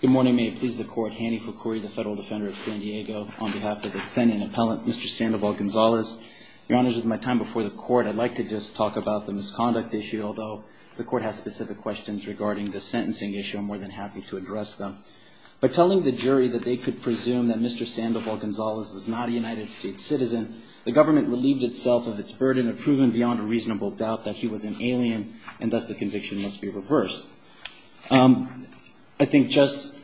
Good morning, may it please the Court. Hanny Fukui, the Federal Defender of San Diego, on behalf of the defendant and appellant, Mr. Sandoval-Gonzalez. Your Honors, with my time before the Court, I'd like to just talk about the misconduct issue, although the Court has specific questions regarding the sentencing issue, I'm more than happy to address them. By telling the jury that they could presume that Mr. Sandoval-Gonzalez was not a United States citizen, the government relieved itself of its burden of proving beyond a reasonable doubt that he was an alien, and thus the conviction must be reversed. I think Judge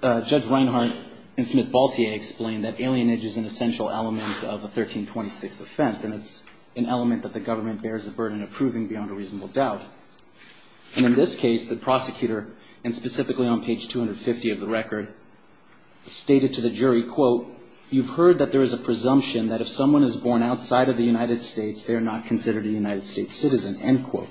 Reinhart and Smith-Baltier explained that alienage is an essential element of a 1326 offense, and it's an element that the government bears the burden of proving beyond a reasonable doubt. And in this case, the prosecutor, and specifically on page 250 of the record, stated to the jury, quote, you've heard that there is a presumption that if someone is born outside of the United States, they are not considered a United States citizen, end quote.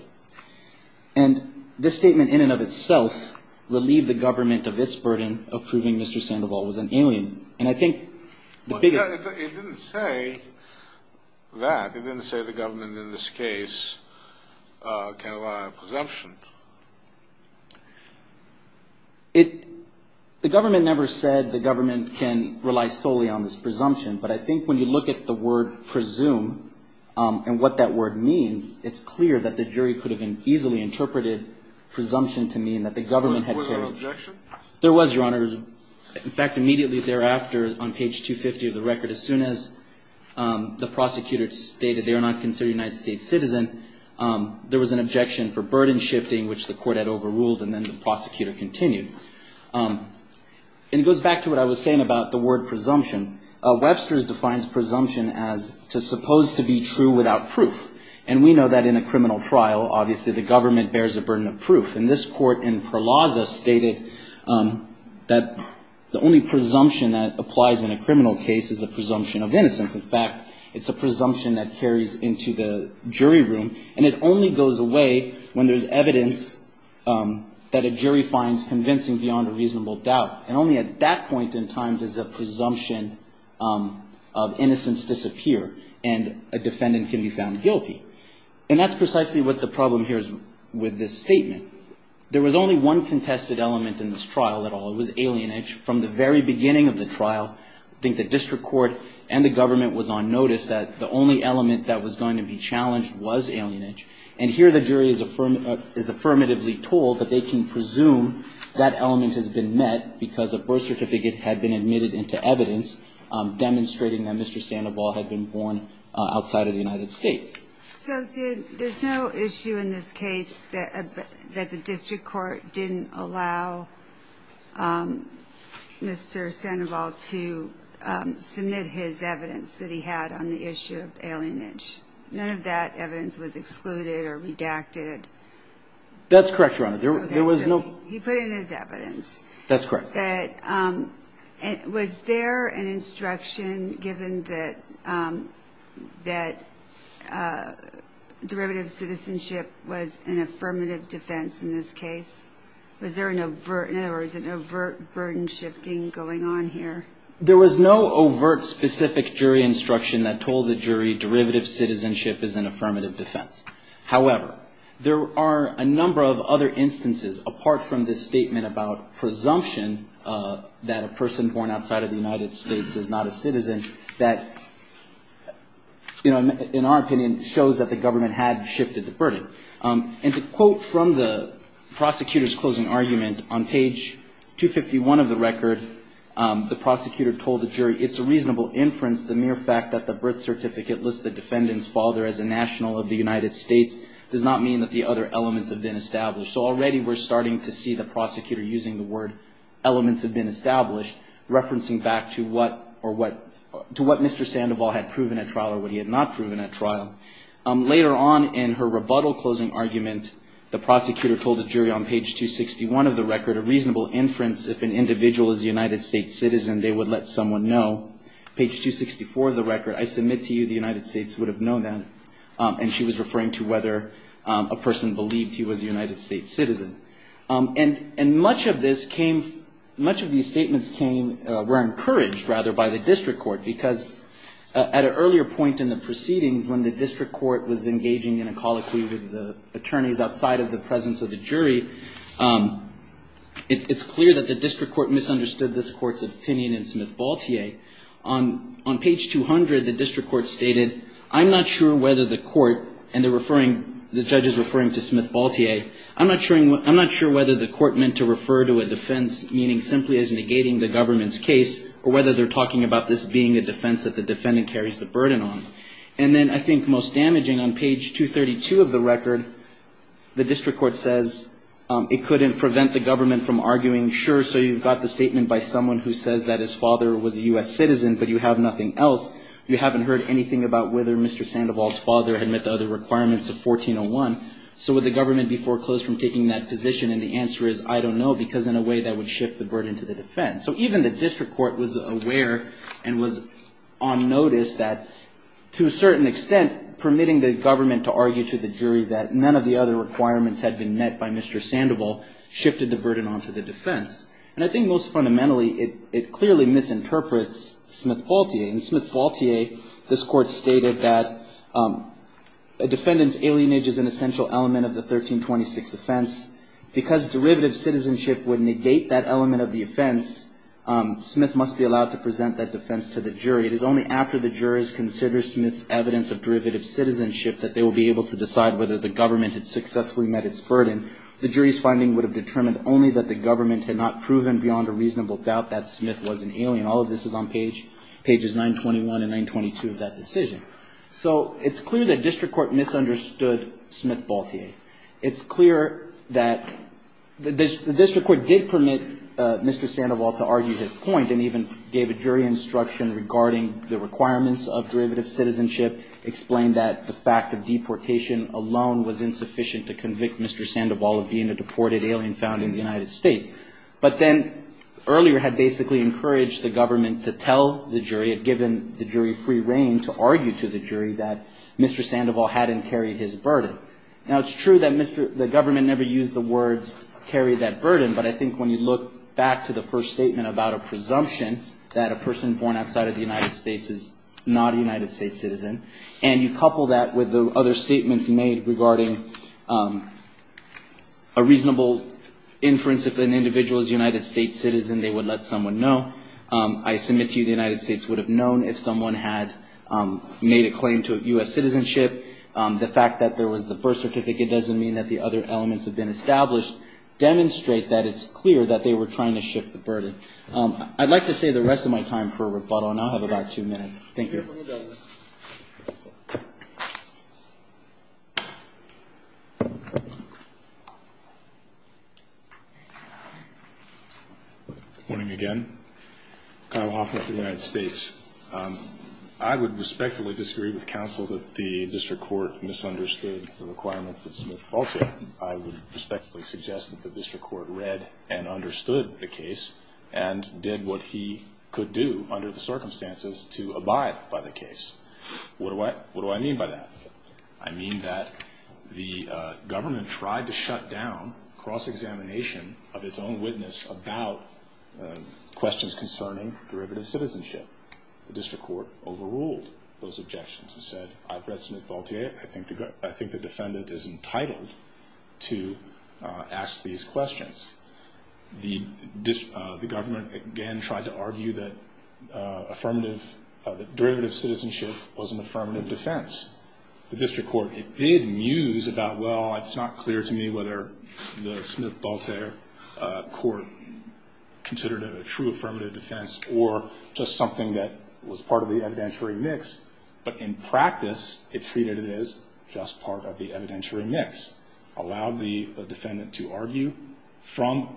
And this statement in and of itself relieved the government of its burden of proving Mr. Sandoval was an alien. And I think the biggest – It didn't say that. It didn't say the government in this case can rely on a presumption. It – the government never said the government can rely solely on this presumption. But I think when you look at the word presume and what that word means, it's clear that the jury could have easily interpreted presumption to mean that the government had carried – Was there an objection? There was, Your Honor. In fact, immediately thereafter, on page 250 of the record, as soon as the prosecutor stated they are not considered a United States citizen, there was an objection for burden shifting, which the court had overruled, and then the prosecutor continued. And it goes back to what I was saying about the word presumption. Webster's defines presumption as to supposed to be true without proof. And we know that in a criminal trial, obviously, the government bears a burden of proof. And this court in Perlaza stated that the only presumption that applies in a criminal case is the presumption of innocence. In fact, it's a presumption that carries into the jury room. And it only goes away when there's evidence that a jury finds convincing beyond a reasonable doubt. And only at that point in time does a presumption of innocence disappear and a defendant can be found guilty. And that's precisely what the problem here is with this statement. There was only one contested element in this trial at all. It was alienage. From the very beginning of the trial, I think the district court and the government was on notice that the only element that was going to be challenged was alienage. And here the jury is affirmatively told that they can presume that element has been met because a birth certificate had been admitted into evidence demonstrating that Mr. Sandoval had been born outside of the United States. So there's no issue in this case that the district court didn't allow Mr. Sandoval to submit his evidence that he had on the issue of alienage. None of that evidence was excluded or redacted. That's correct, Your Honor. There was no. He put in his evidence. That's correct. Was there an instruction given that derivative citizenship was an affirmative defense in this case? Was there an overt, in other words, an overt burden shifting going on here? There was no overt specific jury instruction that told the jury derivative citizenship is an affirmative defense. However, there are a number of other instances apart from this statement about presumption that a person born outside of the United States is not a citizen that, you know, in our opinion shows that the government had shifted the burden. And to quote from the prosecutor's closing argument, on page 251 of the record, the prosecutor told the jury, it's a reasonable inference the mere fact that the birth certificate lists the defendant's father as a national of the United States does not mean that the other elements have been established. So already we're starting to see the prosecutor using the word elements have been established, referencing back to what Mr. Sandoval had proven at trial or what he had not proven at trial. Later on in her rebuttal closing argument, the prosecutor told the jury on page 261 of the record, a reasonable inference if an individual is a United States citizen, they would let someone know. Page 264 of the record, I submit to you the United States would have known that. And she was referring to whether a person believed he was a United States citizen. And much of this came, much of these statements came, were encouraged rather by the district court because at an earlier point in the It's clear that the district court misunderstood this court's opinion in Smith-Baltier. On page 200, the district court stated, I'm not sure whether the court and the referring, the judges referring to Smith-Baltier, I'm not sure whether the court meant to refer to a defense meaning simply as negating the government's case or whether they're talking about this being a defense that the defendant carries the burden on. And then I think most damaging on page 232 of the record, the district court says it couldn't prevent the government from arguing, sure, so you've got the statement by someone who says that his father was a U.S. citizen, but you have nothing else. You haven't heard anything about whether Mr. Sandoval's father had met the other requirements of 1401. So would the government be foreclosed from taking that position? And the answer is, I don't know, because in a way that would shift the burden to the defense. So even the district court was aware and was on notice that to a certain extent, permitting the government to argue to the jury that none of the other requirements had been met by Mr. Sandoval shifted the burden onto the defense. And I think most fundamentally, it clearly misinterprets Smith-Baltier. In Smith-Baltier, this court stated that a defendant's alienage is an essential element of the 1326 offense. Because derivative citizenship would negate that element of the offense, Smith must be allowed to present that defense to the jury. It is only after the jurors consider Smith's evidence of derivative citizenship that they will be able to decide whether the government had successfully met its burden. The jury's finding would have determined only that the government had not proven beyond a reasonable doubt that Smith was an alien. All of this is on pages 921 and 922 of that decision. So it's clear that district court misunderstood Smith-Baltier. It's clear that the district court did permit Mr. Sandoval to argue his point and even gave a jury instruction regarding the requirements of derivative citizenship, explained that the fact of deportation alone was insufficient to convict Mr. Sandoval of being a deported alien found in the United States. But then earlier had basically encouraged the government to tell the jury, had given the jury free reign to argue to the jury that Mr. Sandoval hadn't carried his burden. Now, it's true that the government never used the words carry that burden. But I think when you look back to the first statement about a presumption that a person born outside of the United States is not a United States citizen, and you couple that with the other statements made regarding a reasonable inference that an individual is a United States citizen, they would let someone know. I submit to you the United States would have known if someone had made a claim to U.S. citizenship. The fact that there was the birth certificate doesn't mean that the other elements have been established. It does demonstrate that it's clear that they were trying to shift the burden. I'd like to save the rest of my time for rebuttal, and I'll have about two minutes. Thank you. Good morning again. Kyle Hoffman for the United States. I would respectfully disagree with counsel that the district court misunderstood the requirements that Smith falsified. I would respectfully suggest that the district court read and understood the case and did what he could do under the circumstances to abide by the case. What do I mean by that? I mean that the government tried to shut down cross-examination of its own witness about questions concerning derivative citizenship. The district court overruled those objections and said, I've read Smith-Gaultier. I think the defendant is entitled to ask these questions. The government, again, tried to argue that derivative citizenship was an affirmative defense. The district court, it did muse about, well, it's not clear to me whether the Smith-Gaultier court considered it a true affirmative defense or just something that was part of the evidentiary mix. But in practice, it treated it as just part of the evidentiary mix, allowed the defendant to argue from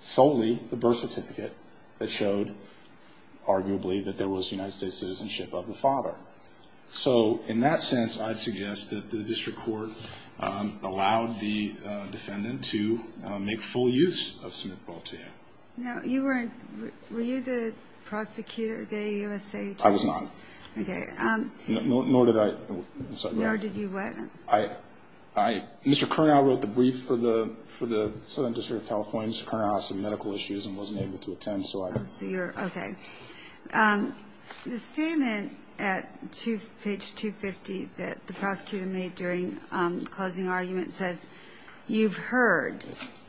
solely the birth certificate that showed, arguably, that there was United States citizenship of the father. So in that sense, I'd suggest that the district court allowed the defendant to make full use of Smith-Gaultier. No, you weren't. Were you the prosecutor at USA Today? I was not. Okay. Nor did I. Nor did you what? Mr. Curnow wrote the brief for the Southern District of California, Mr. Curnow, on some medical issues and wasn't able to attend. I see. Okay. The statement at page 250 that the prosecutor made during the closing argument says, you've heard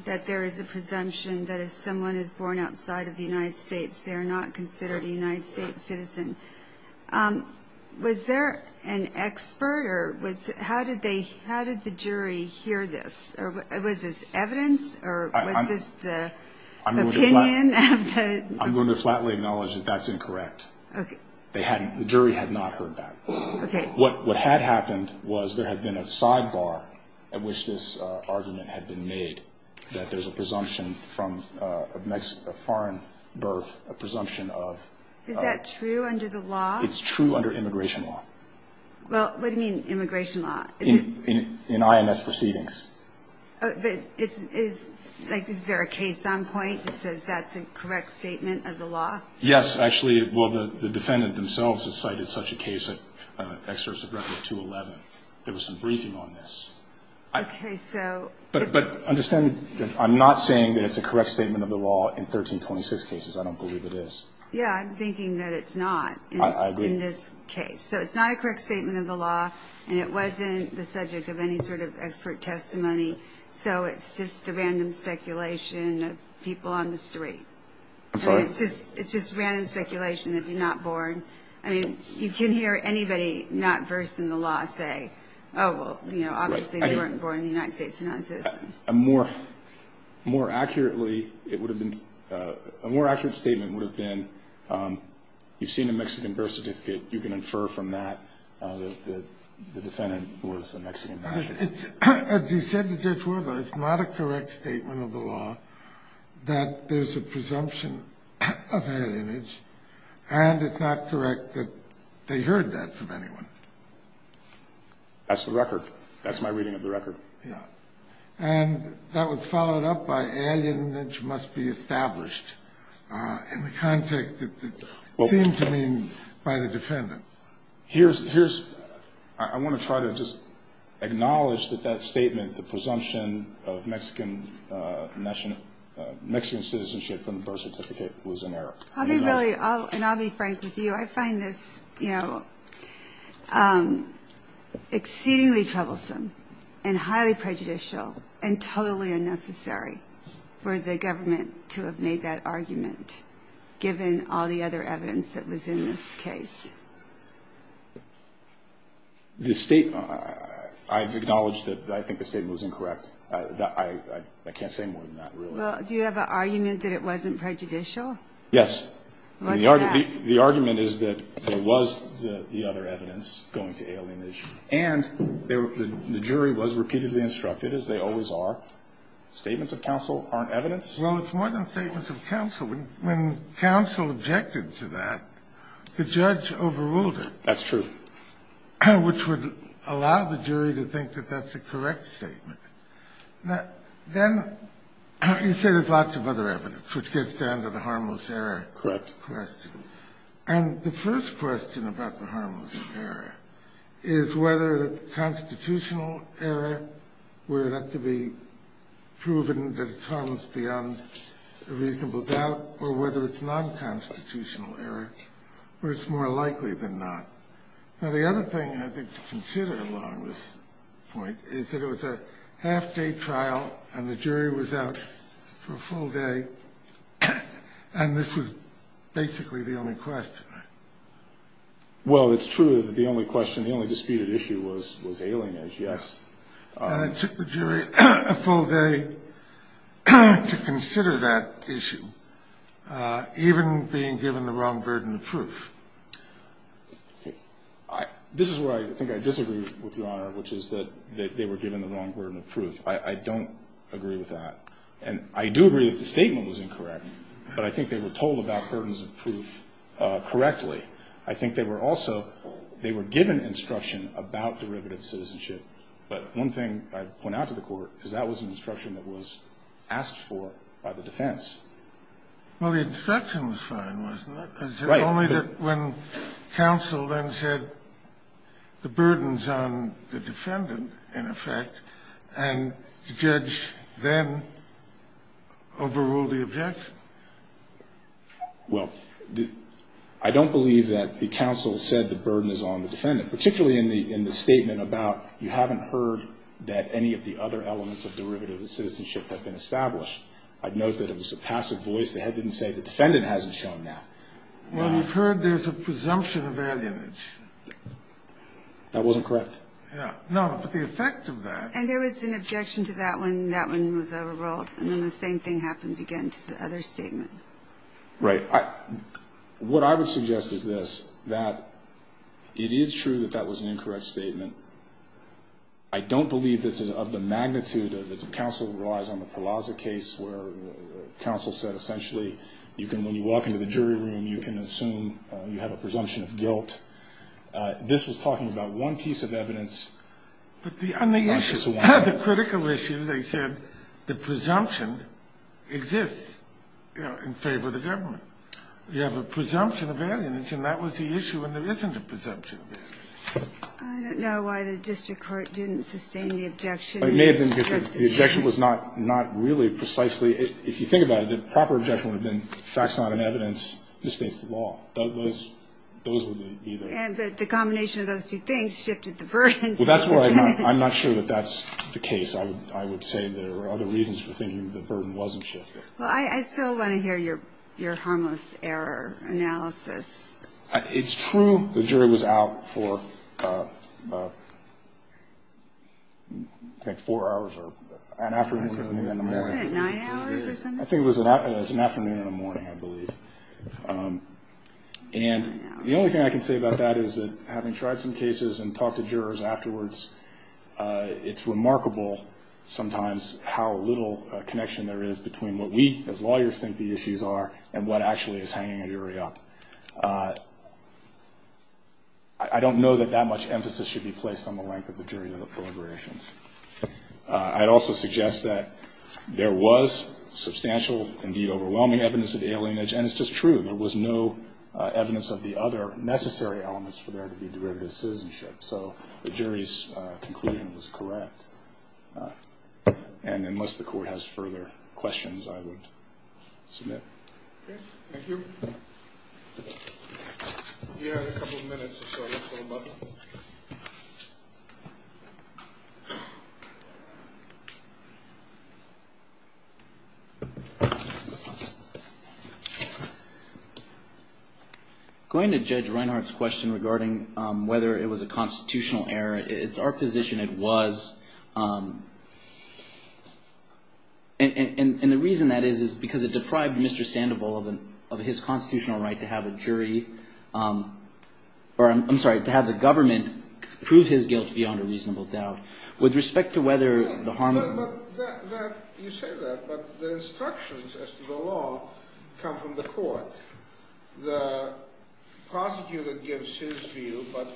that there is a presumption that if someone is born outside of the United States, they are not considered a United States citizen. Was there an expert, or how did the jury hear this? Was this evidence, or was this the opinion? I'm going to flatly acknowledge that that's incorrect. Okay. The jury had not heard that. Okay. What had happened was there had been a sidebar at which this argument had been made, that there's a presumption from a foreign birth, a presumption of... Is that true under the law? It's true under immigration law. Well, what do you mean immigration law? In IMS proceedings. Is there a case on point that says that's a correct statement of the law? Yes, actually. Well, the defendant themselves have cited such a case at Excerpts of Record 211. There was some briefing on this. Okay, so... But understand, I'm not saying that it's a correct statement of the law in 1326 cases. I don't believe it is. I agree. Okay, so it's not a correct statement of the law, and it wasn't the subject of any sort of expert testimony, so it's just the random speculation of people on the street. I'm sorry? It's just random speculation that you're not born. I mean, you can hear anybody not birthed in the law say, oh, well, you know, obviously they weren't born in the United States and not a citizen. A more accurate statement would have been, you've seen a Mexican birth certificate. You can infer from that that the defendant was a Mexican. As you said to Judge Worther, it's not a correct statement of the law that there's a presumption of alienage, and it's not correct that they heard that from anyone. That's the record. That's my reading of the record. Yeah. And that was followed up by alienage must be established in the context that it seemed to mean by the defendant. Here's, I want to try to just acknowledge that that statement, the presumption of Mexican citizenship from the birth certificate was in error. I'll be really, and I'll be frank with you. I find this exceedingly troublesome and highly prejudicial and totally unnecessary for the government to have made that argument, given all the other evidence that was in this case. The state, I've acknowledged that I think the statement was incorrect. I can't say more than that, really. Well, do you have an argument that it wasn't prejudicial? Yes. What's that? The argument is that there was the other evidence going to alienage, and the jury was repeatedly instructed, as they always are. Statements of counsel aren't evidence. Well, it's more than statements of counsel. When counsel objected to that, the judge overruled it. That's true. Which would allow the jury to think that that's a correct statement. Then you say there's lots of other evidence, which gets down to the harmless error. Correct. That's the first question. And the first question about the harmless error is whether the constitutional error would have to be proven that it's harmless beyond a reasonable doubt or whether it's non-constitutional error, or it's more likely than not. Now, the other thing I think to consider along this point is that it was a half-day trial and the jury was out for a full day. And this was basically the only question, right? Well, it's true that the only question, the only disputed issue was alienage, yes. And it took the jury a full day to consider that issue, even being given the wrong burden of proof. This is where I think I disagree with Your Honor, which is that they were given the wrong burden of proof. I don't agree with that. And I do agree that the statement was incorrect, but I think they were told about burdens of proof correctly. I think they were also, they were given instruction about derivative citizenship. But one thing I'd point out to the Court is that was an instruction that was asked for by the defense. Well, the instruction was fine, wasn't it? Right. It's only that when counsel then said the burdens on the defendant, in effect, and the judge then overruled the objection. Well, I don't believe that the counsel said the burden is on the defendant, particularly in the statement about you haven't heard that any of the other elements of derivative citizenship have been established. I'd note that it was a passive voice. The head didn't say the defendant hasn't shown now. Well, we've heard there's a presumption of alienage. That wasn't correct. Yeah. No, but the effect of that. And there was an objection to that one. That one was overruled. And then the same thing happened again to the other statement. Right. What I would suggest is this, that it is true that that was an incorrect statement. I don't believe this is of the magnitude of the counsel who relies on the Palazza case where counsel said essentially you can, when you walk into the jury room, you can assume you have a presumption of guilt. This was talking about one piece of evidence. But on the issue, the critical issue, they said the presumption exists in favor of the government. You have a presumption of alienage, and that was the issue, and there isn't a presumption of alienage. I don't know why the district court didn't sustain the objection. It may have been because the objection was not really precisely, if you think about it, the proper objection would have been facts not in evidence, this states the law. Those would be either. But the combination of those two things shifted the burden. Well, that's where I'm not sure that that's the case. I would say there are other reasons for thinking the burden wasn't shifted. Well, I still want to hear your harmless error analysis. It's true the jury was out for, I think, four hours or an afternoon. Wasn't it nine hours or something? I think it was an afternoon and a morning, I believe. And the only thing I can say about that is that having tried some cases and talked to jurors afterwards, it's remarkable sometimes how little connection there is between what we, as lawyers, think the issues are and what actually is hanging a jury up. I don't know that that much emphasis should be placed on the length of the jury deliberations. I'd also suggest that there was substantial, indeed overwhelming, evidence of alienage. And it's just true. There was no evidence of the other necessary elements for there to be derivative citizenship. So the jury's conclusion was correct. And unless the Court has further questions, I would submit. Okay. Thank you. We have a couple of minutes or so. Going to Judge Reinhart's question regarding whether it was a constitutional error, it's our position it was. And the reason that is is because it deprived Mr. Reinhart of his constitutional right to have a jury, or I'm sorry, to have the government prove his guilt beyond a reasonable doubt. With respect to whether the harm. You say that, but the instructions as to the law come from the Court. The prosecutor gives his view, but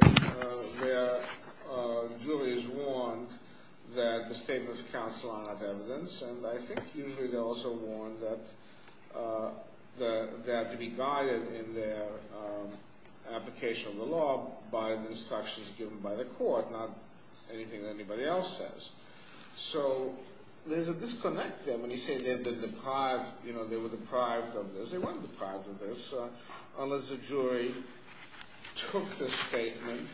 the jury is warned that the statements of counsel are not evidence. And I think usually they're also warned that they have to be guided in their application of the law by the instructions given by the Court, not anything that anybody else says. So there's a disconnect there when you say they were deprived of this. They weren't deprived of this, unless the jury took the statement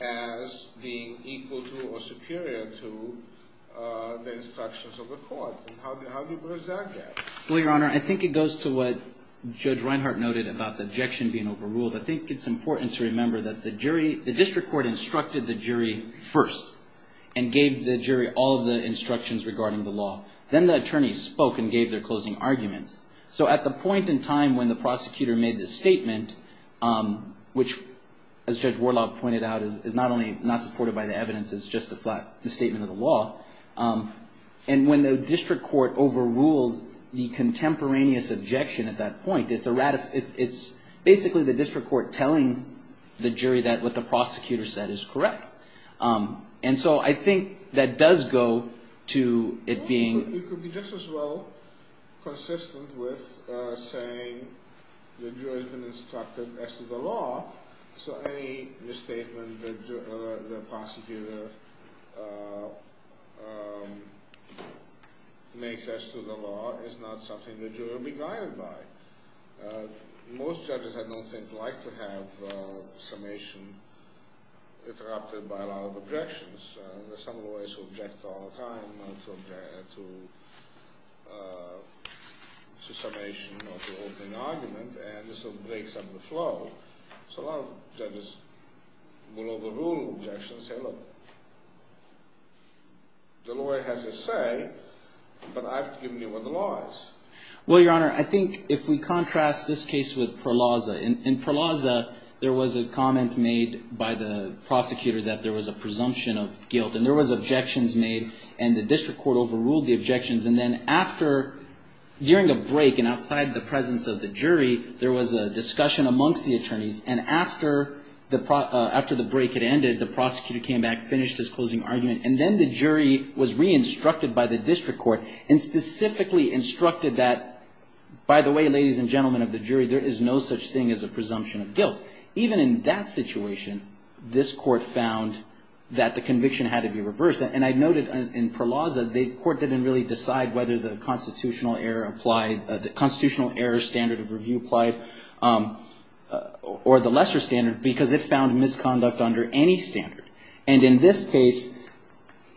as being equal to or superior to the court. And how do you present that? Well, Your Honor, I think it goes to what Judge Reinhart noted about the objection being overruled. I think it's important to remember that the jury, the district court instructed the jury first and gave the jury all of the instructions regarding the law. Then the attorneys spoke and gave their closing arguments. So at the point in time when the prosecutor made the statement, which as Judge Warlaub pointed out, is not only not supported by the evidence, it's just a flat statement of the law. And when the district court overrules the contemporaneous objection at that point, it's basically the district court telling the jury that what the prosecutor said is correct. And so I think that does go to it being… Well, it could be just as well consistent with saying the jury has been instructed as to the law, so any misstatement the prosecutor makes as to the law is not something the jury will be guided by. Most judges, I don't think, like to have summation interrupted by a lot of objections. There are some lawyers who object all the time to summation or to opening argument, and this will break some of the flow. So a lot of judges will overrule objections and say, look, the lawyer has a say, but I've given you what the law is. Well, Your Honor, I think if we contrast this case with Perlaza. In Perlaza, there was a comment made by the prosecutor that there was a presumption of guilt, and there was objections made, and the district court overruled the objections. And then after, during a break and outside the presence of the jury, there was a discussion amongst the attorneys. And after the break had ended, the prosecutor came back, finished his closing argument, and then the jury was re-instructed by the district court and specifically instructed that, by the way, ladies and gentlemen of the jury, there is no such thing as a presumption of guilt. Even in that situation, this court found that the conviction had to be reversed. And I noted in Perlaza, the court didn't really decide whether the constitutional error standard of the statute was applied or the lesser standard, because it found misconduct under any standard. And in this case,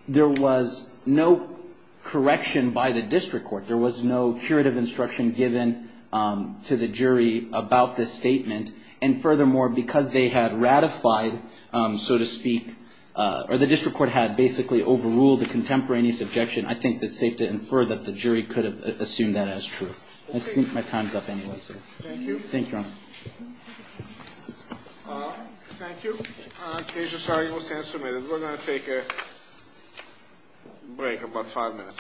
there was no correction by the district court. There was no curative instruction given to the jury about this statement. And furthermore, because they had ratified, so to speak, or the district court had basically overruled the contemporaneous objection, I think it's safe to infer that the jury could have assumed that as true. My time is up anyway, sir. Thank you. Thank you, Your Honor. Thank you. In case you're sorry, you will stand submitted. We're going to take a break of about five minutes.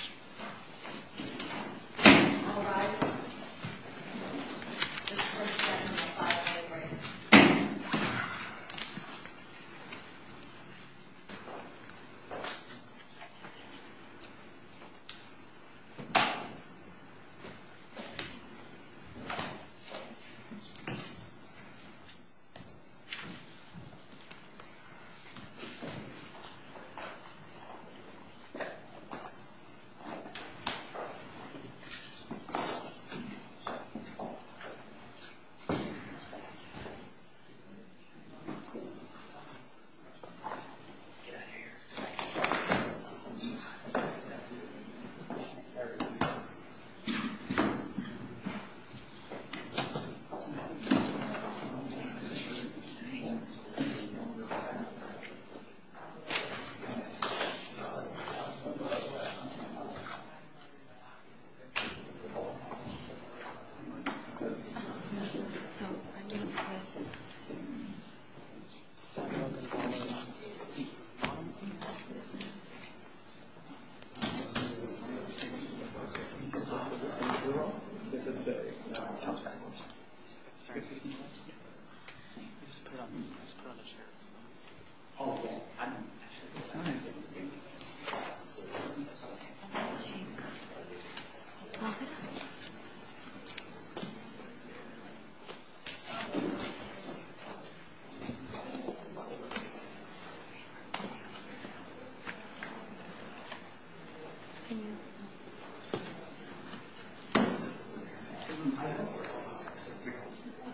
Thank you. Thank you. Thank you.